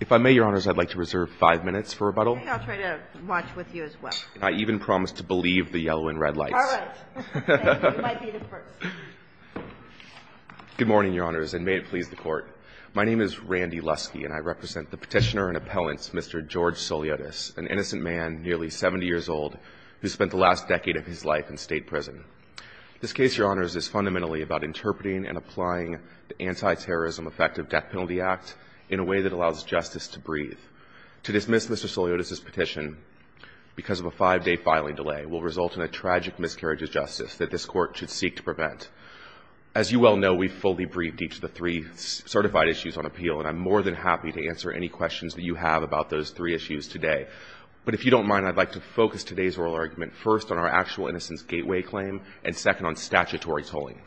If I may, Your Honors, I'd like to reserve five minutes for rebuttal. I think I'll try to watch with you as well. I even promise to believe the yellow and red lights. All right. You might be the first. Good morning, Your Honors, and may it please the Court. My name is Randy Lusky, and I represent the petitioner and appellant, Mr. George Souliotes, an innocent man nearly 70 years old who spent the last decade of his life in state prison. This case, Your Honors, is fundamentally about interpreting and applying the justice to breathe. To dismiss Mr. Souliotes' petition because of a five-day filing delay will result in a tragic miscarriage of justice that this Court should seek to prevent. As you well know, we fully breathe deep to the three certified issues on appeal, and I'm more than happy to answer any questions that you have about those three issues today. But if you don't mind, I'd like to focus today's oral argument first on our actual innocence gateway claim and second on statutory tolling.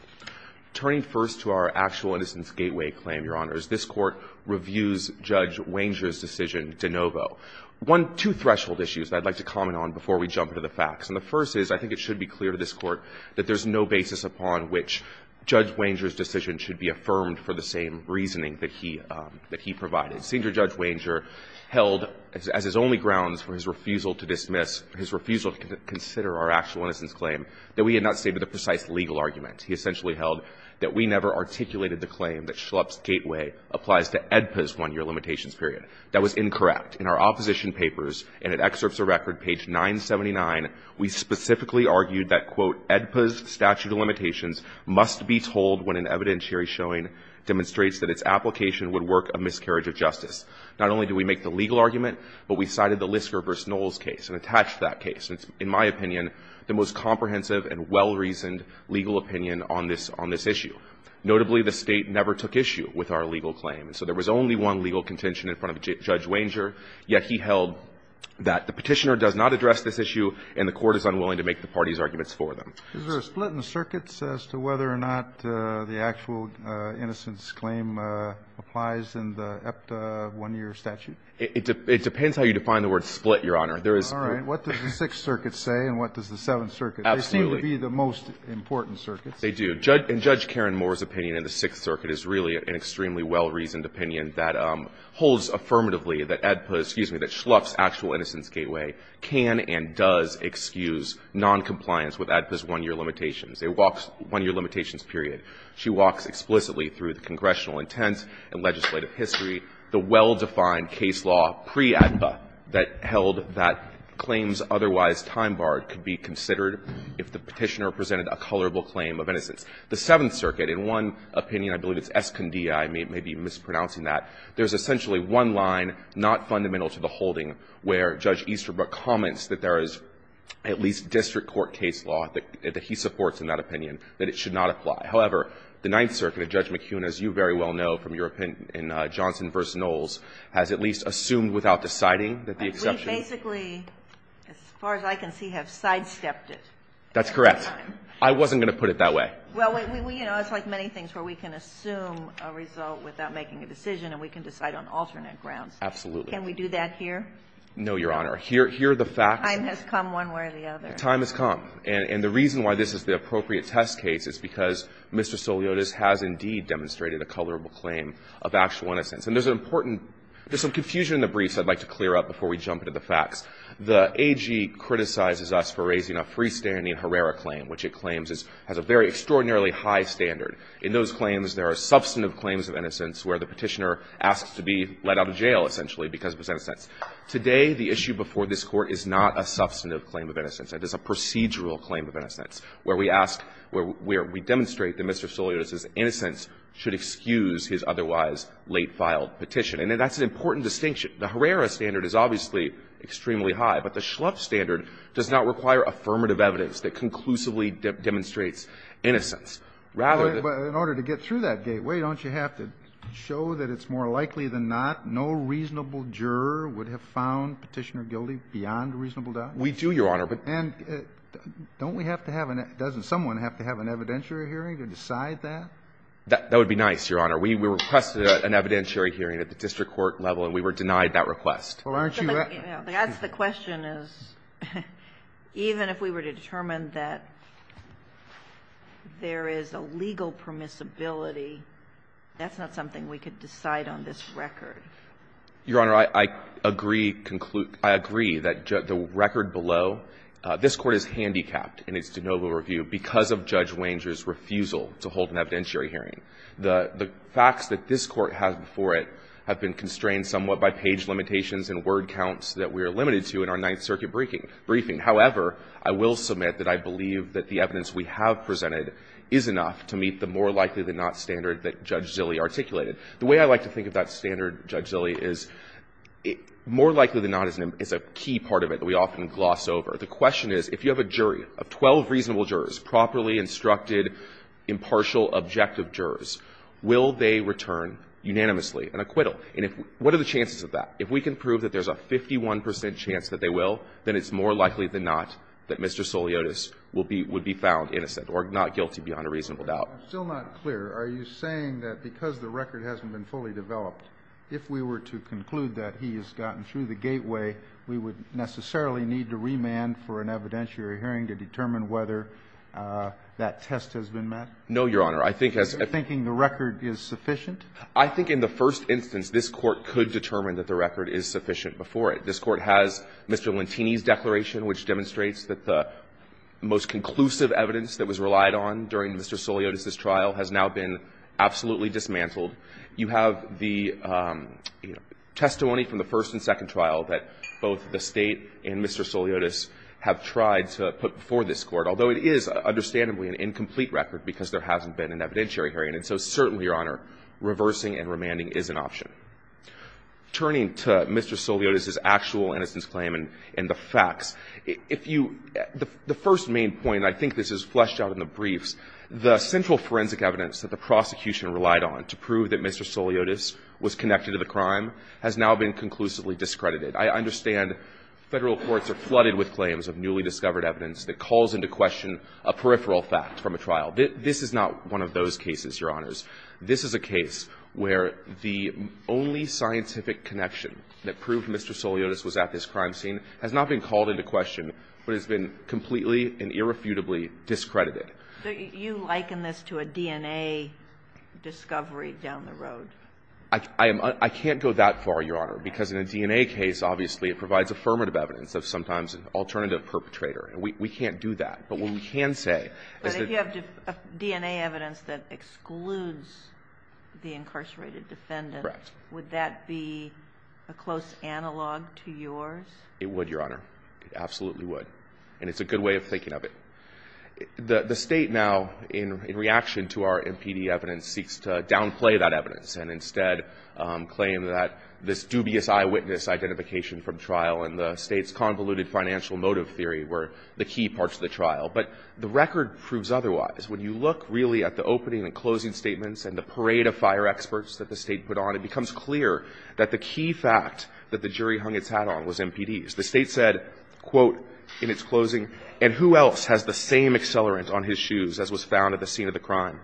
Turning first to our actual innocence gateway claim, Your Honors, this Court reviews Judge Wanger's decision de novo. One — two threshold issues that I'd like to comment on before we jump into the facts. And the first is, I think it should be clear to this Court that there's no basis upon which Judge Wanger's decision should be affirmed for the same reasoning that he — that he provided. Senior Judge Wanger held, as his only grounds for his refusal to dismiss — his refusal to consider our actual innocence claim, that we had not stated a precise legal argument. He essentially held that we never articulated the claim that Schlupp's gateway applies to AEDPA's one-year limitations period. That was incorrect. In our opposition papers, and at Excerpts of Record, page 979, we specifically argued that, quote, AEDPA's statute of limitations must be told when an evidentiary showing demonstrates that its application would work a miscarriage of justice. Not only do we make the legal argument, but we cited the Lisker v. Knowles case and attached that case. In my opinion, the most comprehensive and well-reasoned legal opinion on this — on this issue. Notably, the State never took issue with our legal claim. So there was only one legal contention in front of Judge Wanger, yet he held that the Petitioner does not address this issue and the Court is unwilling to make the party's arguments for them. Is there a split in circuits as to whether or not the actual innocence claim applies in the AEDPA one-year statute? It — it depends how you define the word split, Your Honor. All right. What does the Sixth Circuit say, and what does the Seventh Circuit say? Absolutely. They seem to be the most important circuits. They do. And Judge Karen Moore's opinion in the Sixth Circuit is really an extremely well-reasoned opinion that holds affirmatively that AEDPA — excuse me — that Schlupf's actual innocence gateway can and does excuse noncompliance with AEDPA's one-year limitations. It walks — one-year limitations, period. She walks explicitly through the congressional intent and legislative history, the well-defined case law pre-AEDPA that held that claims otherwise time-barred could be considered if the Petitioner presented a colorable claim of innocence. The Seventh Circuit, in one opinion — I believe it's Escondida, I may be mispronouncing that — there's essentially one line not fundamental to the holding where Judge Easterbrook comments that there is at least district court case law that he supports in that opinion that it should not apply. However, the Ninth Circuit, Judge McKeown, as you very well know from your opinion in Johnson v. Knowles, has at least assumed without deciding that the exception… We basically, as far as I can see, have sidestepped it. That's correct. I wasn't going to put it that way. Well, we — you know, it's like many things where we can assume a result without making a decision and we can decide on alternate grounds. Absolutely. Can we do that here? No, Your Honor. Here — here are the facts. Time has come one way or the other. Time has come. And the reason why this is the appropriate test case is because Mr. Soliotas has indeed demonstrated a colorable claim of actual innocence. And there's an important — there's some confusion in the briefs I'd like to clear up before we jump into the facts. The AG criticizes us for raising a freestanding Herrera claim, which it claims is — has a very extraordinarily high standard. In those claims, there are substantive claims of innocence where the Petitioner asks to be let out of jail, essentially, because of his innocence. Today, the issue before this Court is not a substantive claim of innocence. It is a procedural claim of innocence where we ask — where we demonstrate that Mr. Soliotas' innocence should excuse his otherwise late-filed petition. And that's an important distinction. The Herrera standard is obviously extremely high, but the Schlupf standard does not require affirmative evidence that conclusively demonstrates innocence. Rather than — But in order to get through that gateway, don't you have to show that it's more likely than not no reasonable juror would have found Petitioner guilty beyond a reasonable doubt? We do, Your Honor, but — And don't we have to have an — doesn't someone have to have an evidentiary hearing to decide that? That would be nice, Your Honor. We requested an evidentiary hearing at the district court level, and we were denied that request. Well, aren't you — That's the question, is even if we were to determine that there is a legal permissibility, that's not something we could decide on this record. Your Honor, I agree — I agree that the record below — this Court is handicapped in its de novo review because of Judge Wanger's refusal to hold an evidentiary hearing. The facts that this Court has before it have been constrained somewhat by page limitations and word counts that we are limited to in our Ninth Circuit briefing. However, I will submit that I believe that the evidence we have presented is enough to meet the more likely than not standard that Judge Zilli articulated. The way I like to think of that standard, Judge Zilli, is more likely than not is a key part of it that we often gloss over. The question is, if you have a jury of 12 reasonable jurors, properly instructed, impartial, objective jurors, will they return unanimously an acquittal? And if — what are the chances of that? If we can prove that there's a 51 percent chance that they will, then it's more likely than not that Mr. Soliotis will be — would be found innocent or not guilty beyond a reasonable doubt. I'm still not clear. Are you saying that because the record hasn't been fully developed, if we were to conclude that he has gotten through the gateway, we would necessarily need to remand for an evidentiary hearing to determine whether that test has been met? No, Your Honor. I think as — Are you thinking the record is sufficient? I think in the first instance, this Court could determine that the record is sufficient before it. This Court has Mr. Lantini's declaration, which demonstrates that the most conclusive evidence that was relied on during Mr. Soliotis's trial has now been absolutely dismantled. You have the testimony from the first and second trial that both the State and Mr. Soliotis have tried to put before this Court, although it is understandably an incomplete record because there hasn't been an evidentiary hearing. And so certainly, Your Honor, reversing and remanding is an option. Turning to Mr. Soliotis's actual innocence claim and the facts, if you — the first main point, and I think this is fleshed out in the briefs, the central forensic evidence that the prosecution relied on to prove that Mr. Soliotis was connected to the crime has now been conclusively discredited. I understand Federal courts are flooded with claims of newly discovered evidence that calls into question a peripheral fact from a trial. This is not one of those cases, Your Honors. This is a case where the only scientific connection that proved Mr. Soliotis was at this crime scene has not been called into question, but has been completely and irrefutably discredited. So you liken this to a DNA discovery down the road? I am — I can't go that far, Your Honor, because in a DNA case, obviously, it provides affirmative evidence of sometimes an alternative perpetrator. And we can't do that. But what we can say is that — But if you have DNA evidence that excludes the incarcerated defendant — Correct. — would that be a close analog to yours? It would, Your Honor. It absolutely would. And it's a good way of thinking of it. The State now, in reaction to our MPD evidence, seeks to downplay that evidence and instead claim that this dubious eyewitness identification from trial and the State's convoluted financial motive theory were the key parts of the trial. But the record proves otherwise. When you look, really, at the opening and closing statements and the parade of fire experts that the State put on, it becomes clear that the key fact that the jury hung its hat on was MPDs. The State said, quote, in its closing, And who else has the same accelerant on his shoes as was found at the scene of the crime?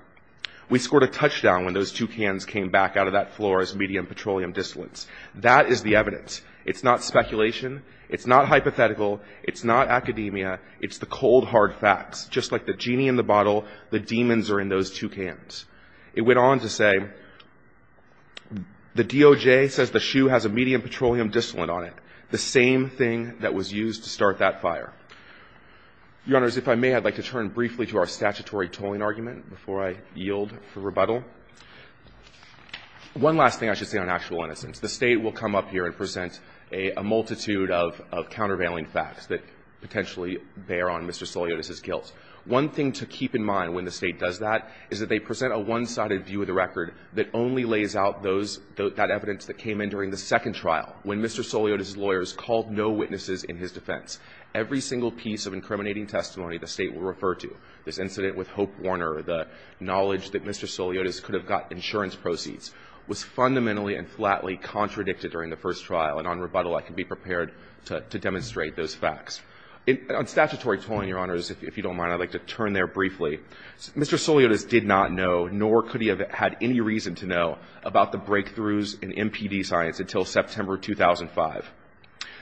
We scored a touchdown when those two cans came back out of that floor as medium petroleum distillates. That is the evidence. It's not speculation. It's not hypothetical. It's not academia. It's the cold, hard facts. Just like the genie in the bottle, the demons are in those two cans. It went on to say, The DOJ says the shoe has a medium petroleum distillate on it. The same thing that was used to start that fire. Your Honors, if I may, I'd like to turn briefly to our statutory tolling argument before I yield for rebuttal. One last thing I should say on actual innocence. The State will come up here and present a multitude of countervailing facts that potentially bear on Mr. Soliotis' guilt. One thing to keep in mind when the State does that is that they present a one-sided view of the record that only lays out those – that evidence that came in during the second trial. When Mr. Soliotis' lawyers called no witnesses in his defense, every single piece of incriminating testimony the State will refer to – this incident with Hope Warner, the knowledge that Mr. Soliotis could have got insurance proceeds – was fundamentally and flatly contradicted during the first trial. And on rebuttal, I can be prepared to demonstrate those facts. On statutory tolling, Your Honors, if you don't mind, I'd like to turn there briefly. Mr. Soliotis did not know, nor could he have had any reason to know, about the breakthroughs in MPD science until September 2005.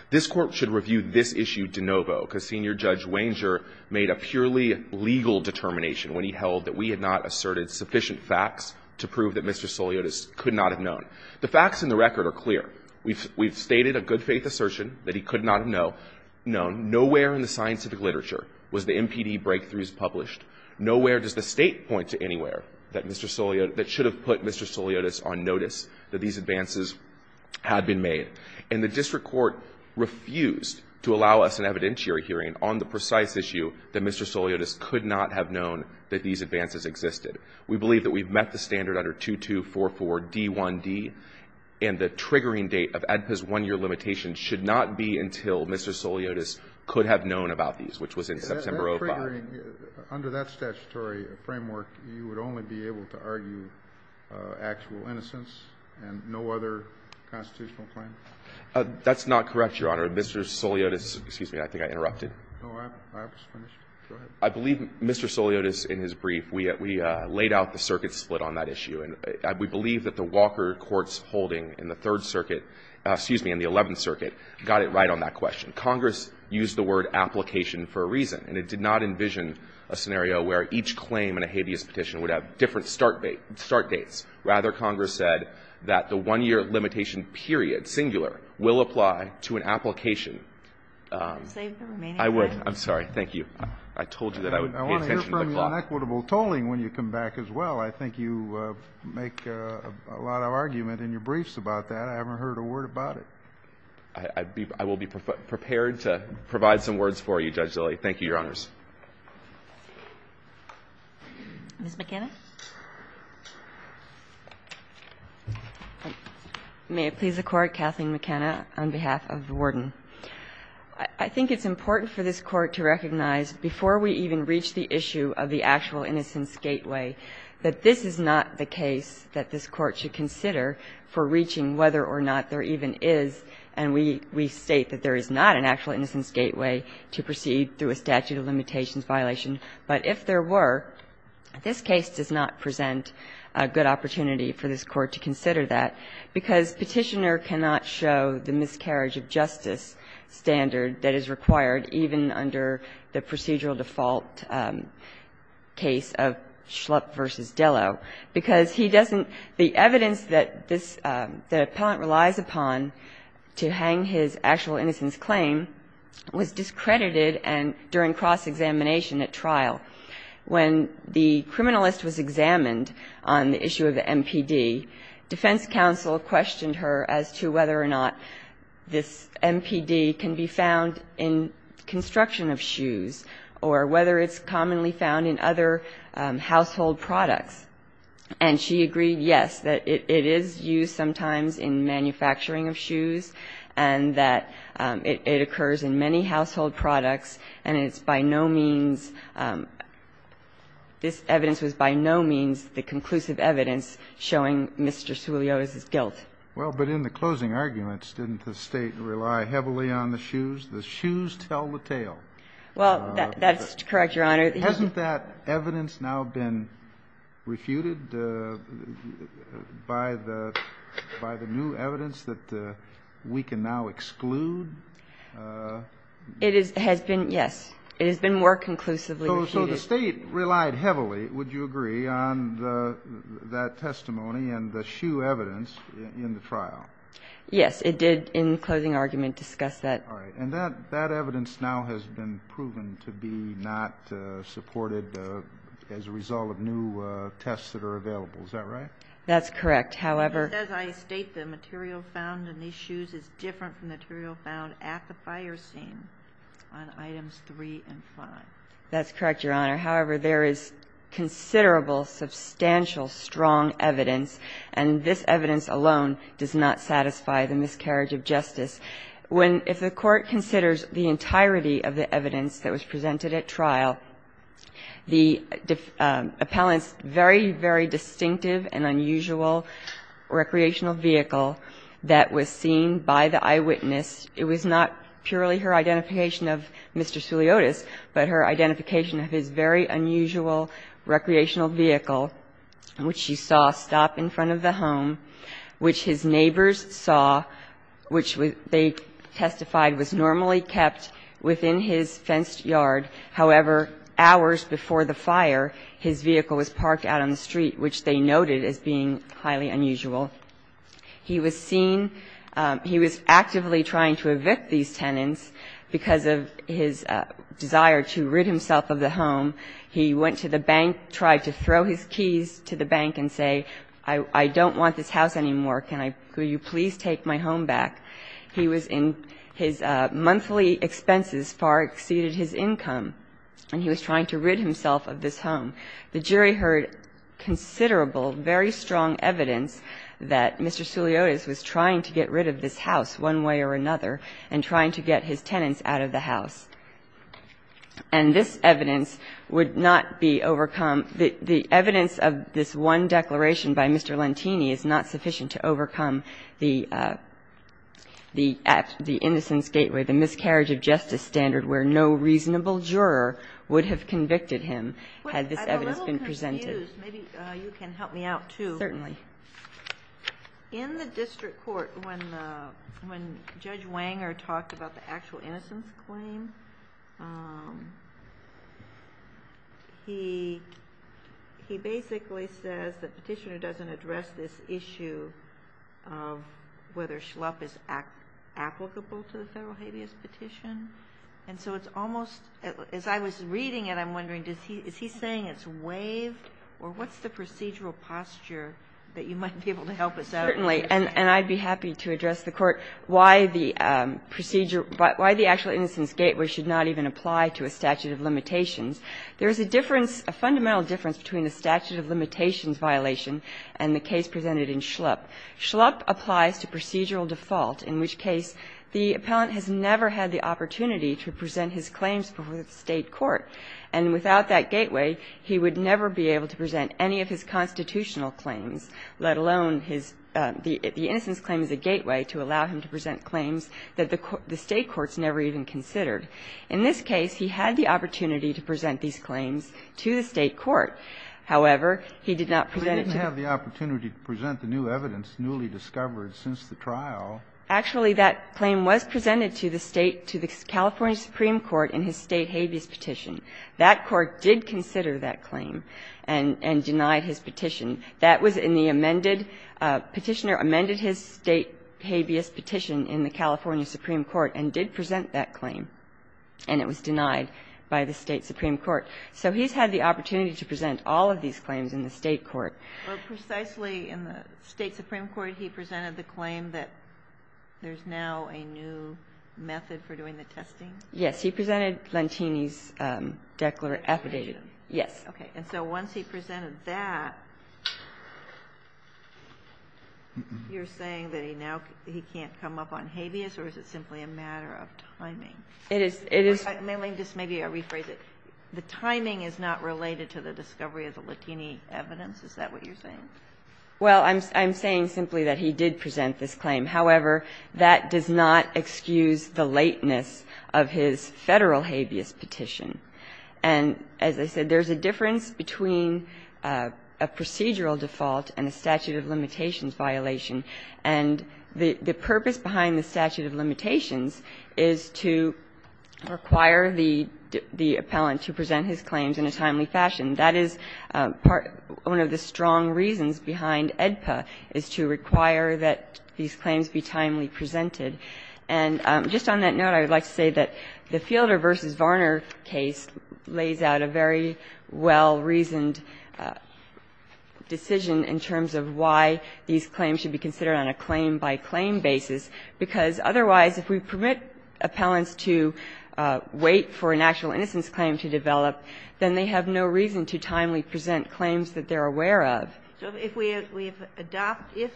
This Court should review this issue de novo, because Senior Judge Wanger made a purely legal determination when he held that we had not asserted sufficient facts to prove that Mr. Soliotis could not have known. The facts in the record are clear. We've – we've stated a good-faith assertion that he could not have known. Nowhere in the scientific literature was the MPD breakthroughs published. Nowhere does the State point to anywhere that Mr. Soliotis – that should have put Mr. Soliotis on notice that these advances had been made. And the district court refused to allow us an evidentiary hearing on the precise issue that Mr. Soliotis could not have known that these advances existed. We believe that we've met the standard under 2244d1d, and the triggering date of ADPA's 1-year limitation should not be until Mr. Soliotis could have known about these, which was in September 2005. Under that statutory framework, you would only be able to argue actual innocence and no other constitutional claim? That's not correct, Your Honor. Mr. Soliotis – excuse me, I think I interrupted. No, I was finished. Go ahead. I believe Mr. Soliotis, in his brief, we laid out the circuit split on that issue. And we believe that the Walker court's holding in the Third Circuit – excuse me, in the Eleventh Circuit got it right on that question. Congress used the word application for a reason. And it did not envision a scenario where each claim in a habeas petition would have different start dates. Rather, Congress said that the 1-year limitation period, singular, will apply to an application. I would – I'm sorry. Thank you. I told you that I would pay attention to the clock. I want to hear from the inequitable tolling when you come back as well. I think you make a lot of argument in your briefs about that. I haven't heard a word about it. I will be prepared to provide some words for you, Judge Daley. Thank you, Your Honors. Ms. McKenna. May it please the Court, Kathleen McKenna, on behalf of the Warden. I think it's important for this Court to recognize before we even reach the issue of the actual innocence gateway that this is not the case that this Court should consider for reaching whether or not there even is. And we state that there is not an actual innocence gateway to proceed through a statute of limitations violation. But if there were, this case does not present a good opportunity for this Court to consider that, because Petitioner cannot show the miscarriage of justice standard that is required even under the procedural default case of Schlupp v. Dillow, because he doesn't The evidence that this, that the appellant relies upon to hang his actual innocence claim was discredited during cross-examination at trial. When the criminalist was examined on the issue of the MPD, defense counsel questioned her as to whether or not this MPD can be found in construction of shoes or whether it's commonly found in other household products. And she agreed, yes, that it is used sometimes in manufacturing of shoes and that it occurs in many household products and it's by no means, this evidence was by no means the conclusive evidence showing Mr. Suillioz's guilt. Well, but in the closing arguments, didn't the State rely heavily on the shoes? The shoes tell the tale. Well, that's correct, Your Honor. Hasn't that evidence now been refuted by the new evidence that we can now exclude? It has been, yes. It has been more conclusively refuted. So the State relied heavily, would you agree, on that testimony and the shoe evidence in the trial? Yes, it did in the closing argument discuss that. All right. And that evidence now has been proven to be not supported as a result of new tests that are available, is that right? That's correct. However As I state, the material found in these shoes is different from the material found at the fire scene on items three and five. That's correct, Your Honor. However, there is considerable, substantial, strong evidence, and this evidence alone does not satisfy the miscarriage of justice. If the Court considers the entirety of the evidence that was presented at trial, the appellant's very, very distinctive and unusual recreational vehicle that was seen by the eyewitness, it was not purely her identification of Mr. Suleotis, but her identification of his very unusual recreational vehicle, which she saw stop in front of the home, which his neighbors saw, which they testified was normally kept within his fenced yard. However, hours before the fire, his vehicle was parked out on the street, which they noted as being highly unusual. He was seen he was actively trying to evict these tenants because of his desire to rid himself of the home. He went to the bank, tried to throw his keys to the bank and say, I don't want this house anymore. Can I, will you please take my home back? He was in his monthly expenses far exceeded his income, and he was trying to rid himself of this home. The jury heard considerable, very strong evidence that Mr. Suleotis was trying to get rid of this house one way or another and trying to get his tenants out of the house. And this evidence would not be overcome. The evidence of this one declaration by Mr. Lentini is not sufficient to overcome the innocence gateway, the miscarriage of justice standard where no reasonable juror would have convicted him had this evidence been presented. But I'm a little confused. Maybe you can help me out, too. Certainly. In the district court, when Judge Wanger talked about the actual innocence claim, he basically says the petitioner doesn't address this issue of whether Schlupp is applicable to the federal habeas petition. And so it's almost, as I was reading it, I'm wondering, is he saying it's waived, or what's the procedural posture that you might be able to help us out with? Certainly. And I'd be happy to address the court why the procedure, why the actual innocence gateway should not even apply to a statute of limitations. There's a difference, a fundamental difference between a statute of limitations violation and the case presented in Schlupp. Schlupp applies to procedural default, in which case the appellant has never had the opportunity to present his claims before the State court. And without that gateway, he would never be able to present any of his constitutional claims, let alone his the innocence claim as a gateway to allow him to present In this case, he had the opportunity to present these claims to the State court. However, he did not present it to the new evidence newly discovered since the trial. Actually, that claim was presented to the State, to the California Supreme Court in his State habeas petition. That court did consider that claim and denied his petition. That was in the amended, petitioner amended his State habeas petition in the California Supreme Court and did present that claim. And it was denied by the State Supreme Court. So he's had the opportunity to present all of these claims in the State court. Precisely in the State Supreme Court, he presented the claim that there's now a new method for doing the testing. Yes, he presented Lentini's declared affidavit. Yes. Okay. And so once he presented that, you're saying that he now, he can't come up on habeas or is it simply a matter of timing? It is, it is. May I just maybe rephrase it? The timing is not related to the discovery of the Lentini evidence? Is that what you're saying? Well, I'm saying simply that he did present this claim. However, that does not excuse the lateness of his Federal habeas petition. And as I said, there's a difference between a procedural default and a statute of limitations violation. And the purpose behind the statute of limitations is to require the appellant to present his claims in a timely fashion. That is one of the strong reasons behind AEDPA, is to require that these claims be timely presented. And just on that note, I would like to say that the Fielder v. Varner case lays out a very well-reasoned decision in terms of why these claims should be considered on a claim-by-claim basis, because otherwise, if we permit appellants to wait for an actual innocence claim to develop, then they have no reason to timely present claims that they're aware of. So if we adopt the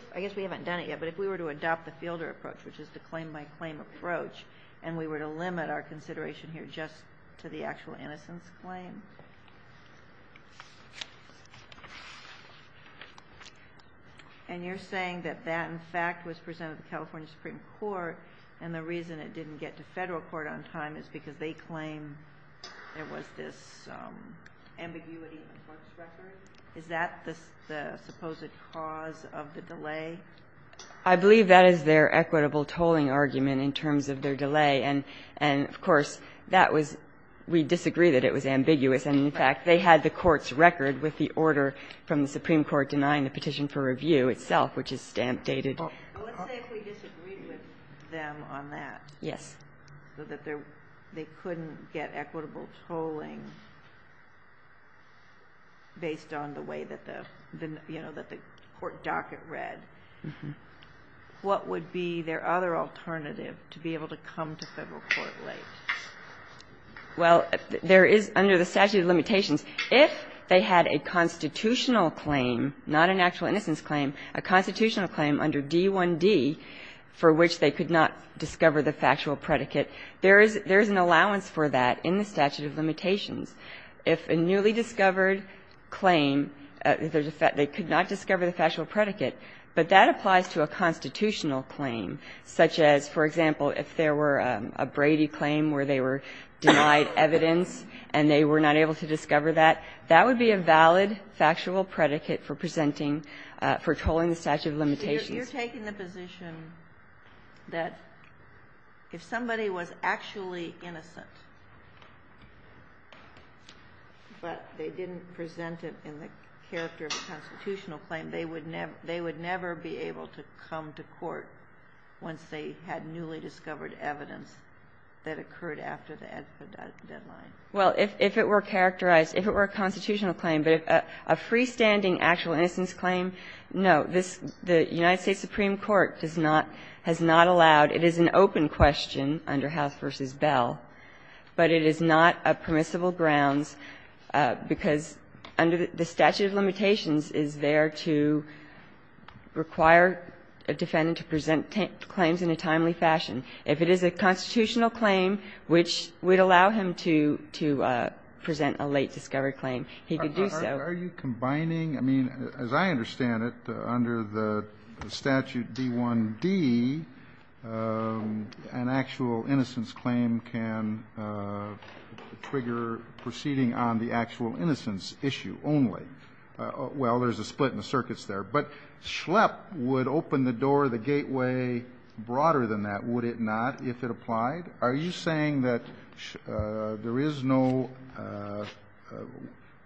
Fielder approach, which is the claim-by-claim approach, and we were to limit our consideration here just to the actual innocence claim, and you're saying that that, in fact, was presented to the California Supreme Court, and the reason it didn't get to Federal court on time is because they claim there was this ambiguity in the court's record, is that the supposed cause of the delay? I believe that is their equitable tolling argument in terms of their delay. And, of course, that was we disagree that it was ambiguous. And, in fact, they had the court's record with the order from the Supreme Court denying the petition for review itself, which is stamp-dated. Ginsburg. Well, let's say if we disagreed with them on that, so that they couldn't get equitable tolling based on the way that the, you know, that the court docket read, what would be their other alternative to be able to come to Federal court late? Well, there is, under the statute of limitations, if they had a constitutional claim, not an actual innocence claim, a constitutional claim under D1D for which they could not discover the factual predicate, there is an allowance for that in the statute of limitations. If a newly discovered claim, they could not discover the factual predicate, but that applies to a constitutional claim, such as, for example, if there were a Brady claim where they were denied evidence and they were not able to discover that, that would be a valid factual predicate for presenting, for tolling the statute of limitations. You're taking the position that if somebody was actually innocent, but they didn't present it in the character of a constitutional claim, they would never be able to come to court once they had newly discovered evidence that occurred after the deadline? Well, if it were characterized, if it were a constitutional claim, but a freestanding actual innocence claim, no. This, the United States Supreme Court does not, has not allowed, it is an open question under House v. Bell, but it is not a permissible grounds because under the statute of limitations is there to require a defendant to present claims in a timely fashion. If it is a constitutional claim which would allow him to present a late-discovered claim, he could do so. Are you combining, I mean, as I understand it, under the statute D-1-D, an actual innocence claim can trigger proceeding on the actual innocence issue only. Well, there's a split in the circuits there, but Schlepp would open the door, the it not, if it applied. Are you saying that there is no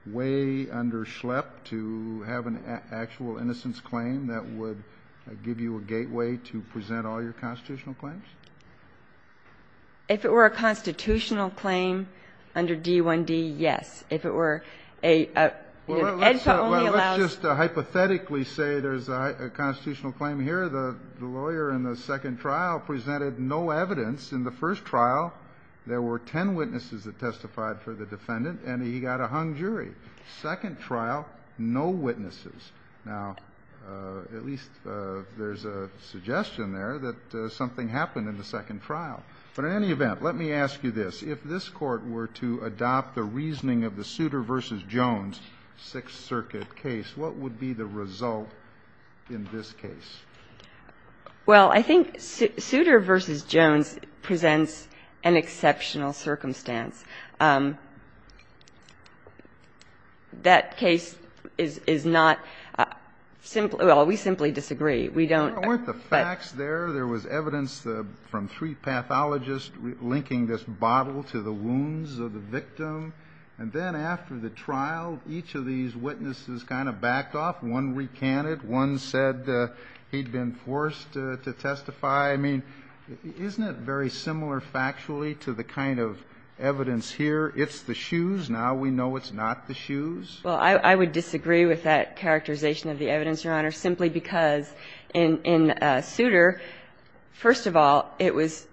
way under Schlepp to have an actual innocence claim that would give you a gateway to present all your constitutional claims? If it were a constitutional claim under D-1-D, yes. If it were a edge that only allows Let's just hypothetically say there's a constitutional claim here. The lawyer in the second trial presented no evidence in the first trial. There were ten witnesses that testified for the defendant, and he got a hung jury. Second trial, no witnesses. Now, at least there's a suggestion there that something happened in the second trial. But in any event, let me ask you this. If this Court were to adopt the reasoning of the Souter v. Jones Sixth Circuit case, what would be the result in this case? Well, I think Souter v. Jones presents an exceptional circumstance. That case is not simply Well, we simply disagree. We don't I want the facts there. There was evidence from three pathologists linking this bottle to the wounds of the victim. And then after the trial, each of these witnesses kind of backed off. One recanted. One said he'd been forced to testify. I mean, isn't it very similar factually to the kind of evidence here? It's the shoes. Now we know it's not the shoes. Well, I would disagree with that characterization of the evidence, Your Honor, simply because in Souter, first of all, it was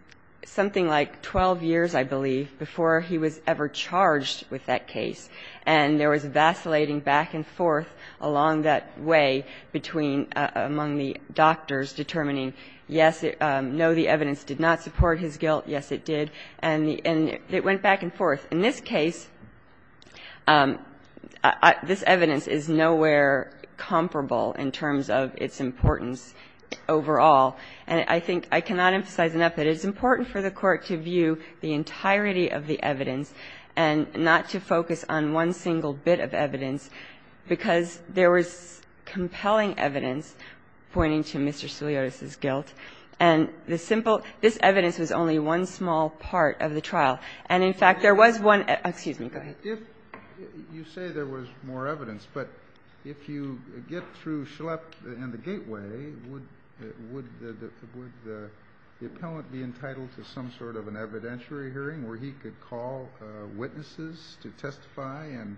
something like 12 years, I believe, before he was ever charged with that case. And there was vacillating back and forth along that way between among the doctors determining, yes, no, the evidence did not support his guilt, yes, it did. And it went back and forth. In this case, this evidence is nowhere comparable in terms of its importance overall. And I think I cannot emphasize enough that it's important for the Court to view the one single bit of evidence, because there was compelling evidence pointing to Mr. Siliotis' guilt. And the simple – this evidence was only one small part of the trial. And in fact, there was one – excuse me, go ahead. Kennedy, if you say there was more evidence, but if you get through Schlepp and the gateway, would the appellant be entitled to some sort of an evidentiary hearing where he could call witnesses to testify and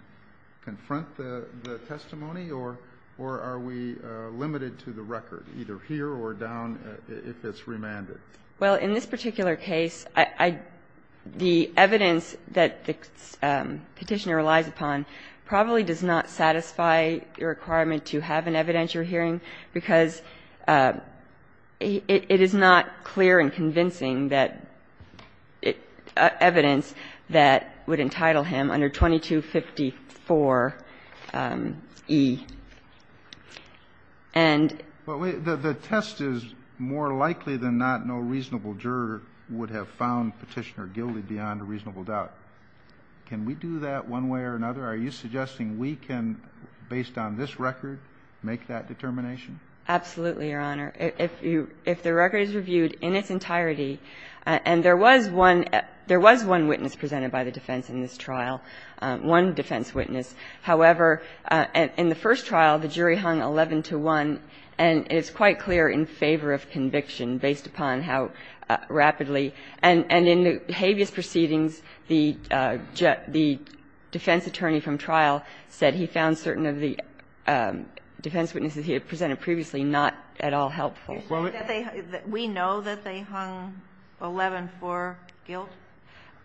confront the testimony? Or are we limited to the record, either here or down, if it's remanded? Well, in this particular case, I – the evidence that the Petitioner relies upon probably does not satisfy the requirement to have an evidentiary hearing, because it is not clear and convincing that evidence that would entitle him under 2254e. And the test is more likely than not no reasonable juror would have found Petitioner guilty beyond a reasonable doubt. Can we do that one way or another? Are you suggesting we can, based on this record, make that determination? Absolutely, Your Honor. If you – if the record is reviewed in its entirety, and there was one – there was one witness presented by the defense in this trial, one defense witness. However, in the first trial, the jury hung 11 to 1, and it's quite clear in favor of conviction based upon how rapidly – and in the habeas proceedings, the defense attorney from trial said he found certain of the defense witnesses he had presented previously not at all helpful. You're saying that they – that we know that they hung 11 for guilt?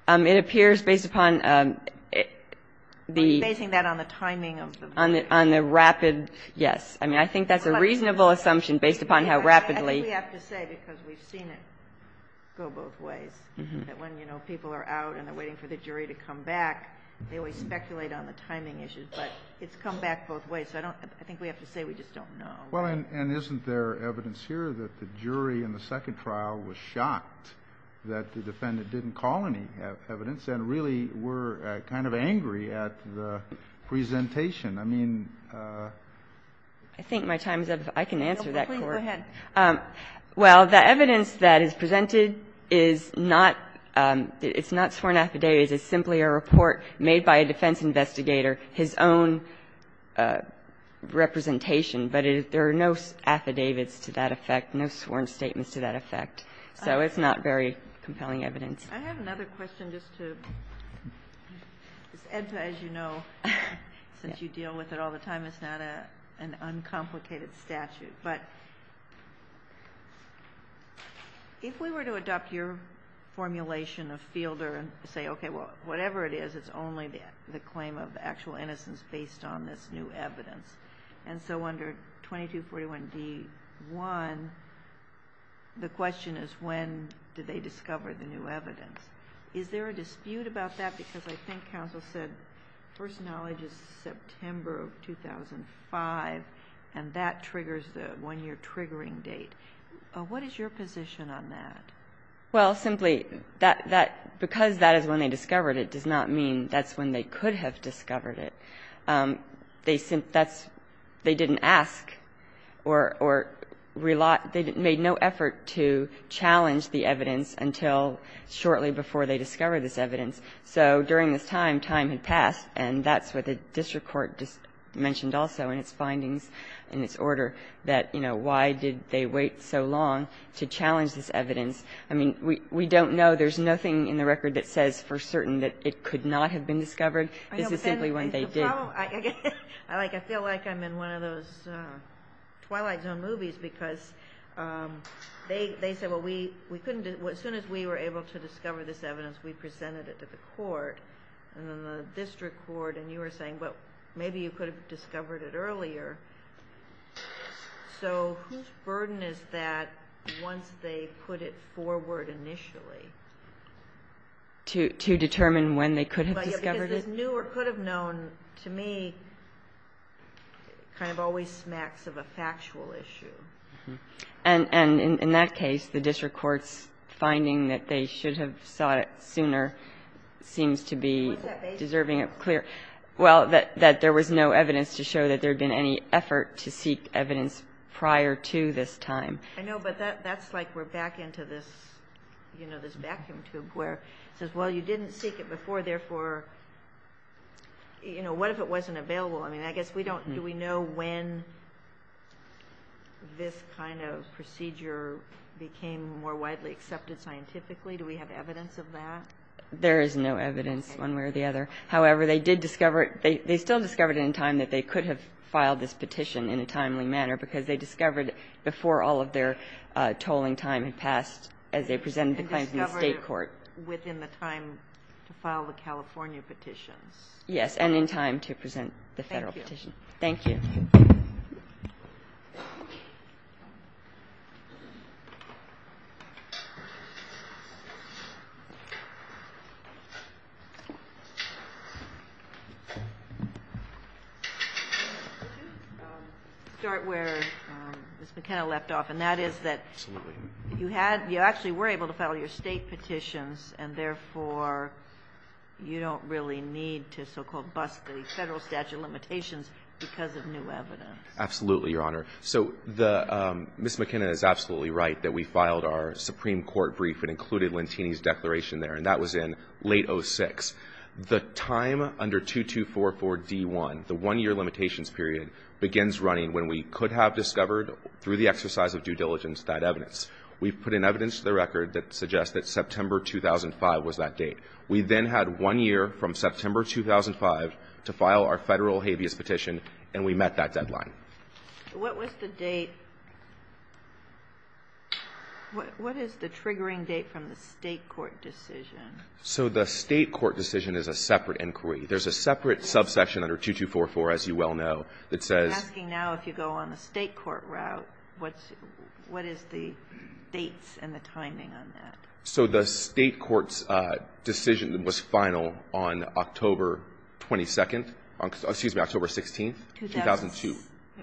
It appears based upon the – You're basing that on the timing of the vote. On the rapid – yes. I mean, I think that's a reasonable assumption based upon how rapidly – I think we have to say, because we've seen it go both ways, that when, you know, people are out and they're waiting for the jury to come back, they always speculate on the timing issues. But it's come back both ways. So I don't – I think we have to say we just don't know. Well, and isn't there evidence here that the jury in the second trial was shocked that the defendant didn't call any evidence and really were kind of angry at the presentation? I mean – I think my time is up. I can answer that, Court. Please go ahead. Well, the evidence that is presented is not – it's not sworn affidavit. It's simply a report made by a defense investigator, his own representation. But there are no affidavits to that effect, no sworn statements to that effect. So it's not very compelling evidence. I have another question just to – this EDPA, as you know, since you deal with it all the time, it's not an uncomplicated statute. But if we were to adopt your formulation of Fielder and say, okay, well, whatever it is, it's only the claim of actual innocence based on this new evidence, and so under 2241D1, the question is when did they discover the new evidence? Is there a dispute about that? Because I think counsel said first knowledge is September of 2005, and that triggers the one-year triggering date. What is your position on that? Well, simply, that – because that is when they discovered it does not mean that's when they could have discovered it. They didn't ask or – they made no effort to challenge the evidence until shortly before they discovered this evidence. So during this time, time had passed, and that's what the district court mentioned also in its findings, in its order, that, you know, why did they wait so long to challenge this evidence? I mean, we don't know. There's nothing in the record that says for certain that it could not have been discovered. This is simply when they did. I feel like I'm in one of those Twilight Zone movies because they say, well, we couldn't – as soon as we were able to discover this evidence, we presented it to the court, and then the district court, and you were saying, well, maybe you could have discovered it earlier. So whose burden is that once they put it forward initially? To determine when they could have discovered it? Because this new or could have known, to me, kind of always smacks of a factual issue. And in that case, the district court's finding that they should have sought it sooner seems to be deserving of clear – What's that basis for? Well, that there was no evidence to show that there had been any effort to seek evidence prior to this time. I know, but that's like we're back into this, you know, this vacuum tube where it says, well, you didn't seek it before, therefore, you know, what if it wasn't available? I mean, I guess we don't – do we know when this kind of procedure became more widely accepted scientifically? Do we have evidence of that? There is no evidence one way or the other. However, they did discover – they still discovered it in time that they could have filed this petition in a timely manner because they discovered before all of their tolling time had passed as they presented the claim to the state court. Within the time to file the California petitions? Yes. And in time to present the Federal petition. Thank you. Thank you. Let me start where Ms. McKenna left off, and that is that you had – you actually were able to file your state petitions, and therefore, you don't really need to so-called bust the Federal statute of limitations because of new evidence. Absolutely, Your Honor. So the – Ms. McKenna is absolutely right that we filed our Supreme Court brief and included Lentini's declaration there, and that was in late 06. The time under 2244D1, the one-year limitations period, begins running when we could have discovered through the exercise of due diligence that evidence. We've put in evidence to the record that suggests that September 2005 was that date. We then had one year from September 2005 to file our Federal habeas petition, and we met that deadline. What was the date – what is the triggering date from the state court decision? So the state court decision is a separate inquiry. There's a separate subsection under 2244, as you well know, that says – The dates and the timing on that. So the state court's decision was final on October 22nd – excuse me, October 16th, 2002.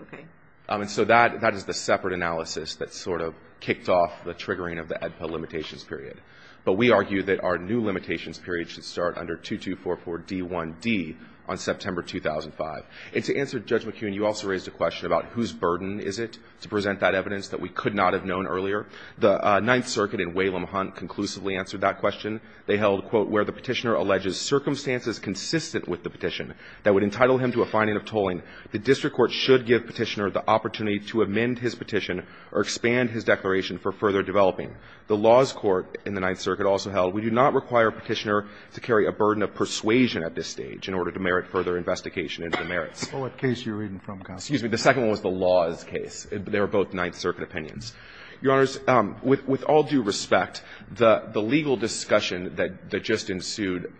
Okay. And so that is the separate analysis that sort of kicked off the triggering of the ADPA limitations period. But we argue that our new limitations period should start under 2244D1D on September 2005. And to answer Judge McKeown, you also raised a question about whose burden is it to present that evidence that we could not have known earlier. The Ninth Circuit in Whalum Hunt conclusively answered that question. They held, quote, where the Petitioner alleges circumstances consistent with the petition that would entitle him to a finding of tolling, the district court should give Petitioner the opportunity to amend his petition or expand his declaration for further developing. The laws court in the Ninth Circuit also held, we do not require Petitioner to carry a burden of persuasion at this stage in order Well, what case are you reading from, counsel? Excuse me, the second one was the laws case. They were both Ninth Circuit opinions. Your Honors, with all due respect, the legal discussion that just ensued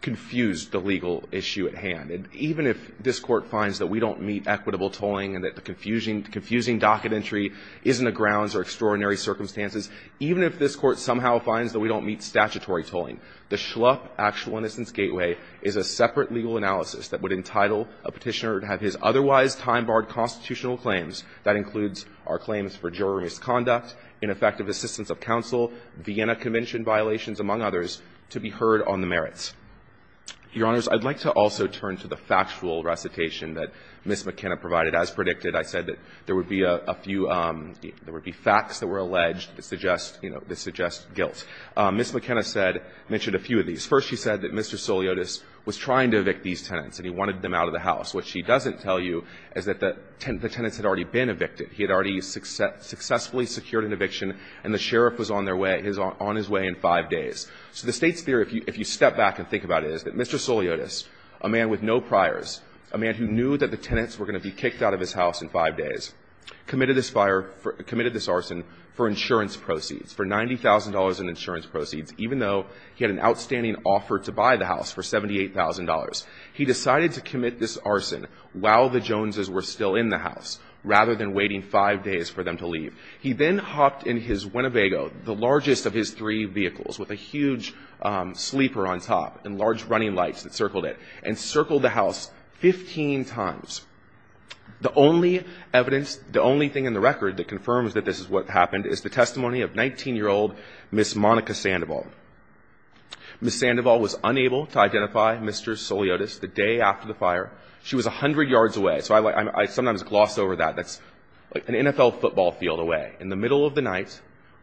confused the legal issue at hand. And even if this Court finds that we don't meet equitable tolling and that the confusing docket entry is in the grounds or extraordinary circumstances, even if this Court somehow finds that we don't meet statutory tolling, the Schlupf Actual Innocence Gateway is a separate legal analysis that would entitle a Petitioner to have his otherwise time-barred constitutional claims, that includes our claims for juror misconduct, ineffective assistance of counsel, Vienna Convention violations, among others, to be heard on the merits. Your Honors, I'd like to also turn to the factual recitation that Ms. McKenna provided. As predicted, I said that there would be a few – there would be facts that were alleged that suggest, you know, that suggest guilt. Ms. McKenna said – mentioned a few of these. First, she said that Mr. Soliotis was trying to evict these tenants and he wanted them out of the house. What she doesn't tell you is that the tenants had already been evicted. He had already successfully secured an eviction and the sheriff was on their way – on his way in five days. So the State's theory, if you step back and think about it, is that Mr. Soliotis, a man with no priors, a man who knew that the tenants were going to be kicked out of his house in five days, committed this fire – committed this arson for insurance proceeds, for $90,000 in insurance proceeds, even though he had an outstanding offer to buy the house for $78,000. He decided to commit this arson while the Joneses were still in the house, rather than waiting five days for them to leave. He then hopped in his Winnebago, the largest of his three vehicles, with a huge sleeper on top and large running lights that circled it, and circled the house 15 times. The only evidence – the only thing in the record that confirms that this is what happened is the testimony of 19-year-old Ms. Monica Sandoval. Ms. Sandoval was unable to identify Mr. Soliotis the day after the fire. She was 100 yards away. So I sometimes gloss over that. That's like an NFL football field away, in the middle of the night,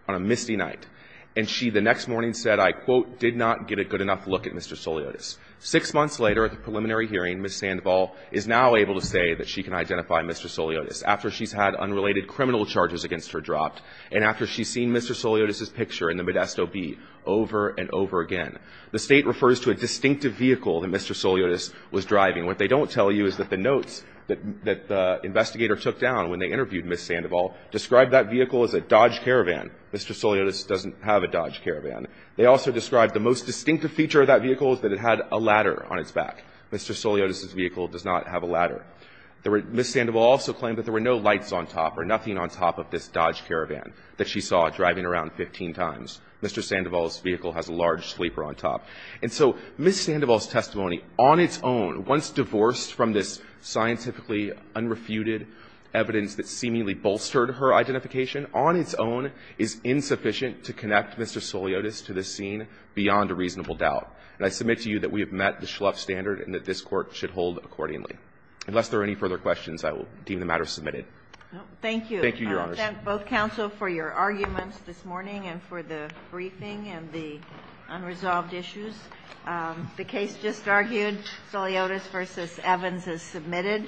on a misty night. And she, the next morning, said, I quote, did not get a good enough look at Mr. Soliotis. Six months later, at the preliminary hearing, Ms. Sandoval is now able to say that she can identify Mr. Soliotis after she's had unrelated criminal charges against her dropped and after she's seen Mr. Soliotis's picture in the Modesto B over and over again. The State refers to a distinctive vehicle that Mr. Soliotis was driving. What they don't tell you is that the notes that the investigator took down when they interviewed Ms. Sandoval described that vehicle as a Dodge Caravan. Mr. Soliotis doesn't have a Dodge Caravan. They also described the most distinctive feature of that vehicle is that it had a ladder on its back. Mr. Soliotis's vehicle does not have a ladder. Ms. Sandoval also claimed that there were no lights on top or nothing on top of this Dodge Caravan that she saw driving around 15 times. Mr. Sandoval's vehicle has a large sleeper on top. And so Ms. Sandoval's testimony on its own, once divorced from this scientifically unrefuted evidence that seemingly bolstered her identification, on its own is insufficient to connect Mr. Soliotis to this scene beyond a reasonable doubt. And I submit to you that we have met the Schlupf standard and that this Court should hold accordingly. Unless there are any further questions, I will deem the matter submitted. Thank you. Thank you, Your Honors. I thank both counsel for your arguments this morning and for the briefing and the unresolved issues. The case just argued, Soliotis v. Evans, is submitted.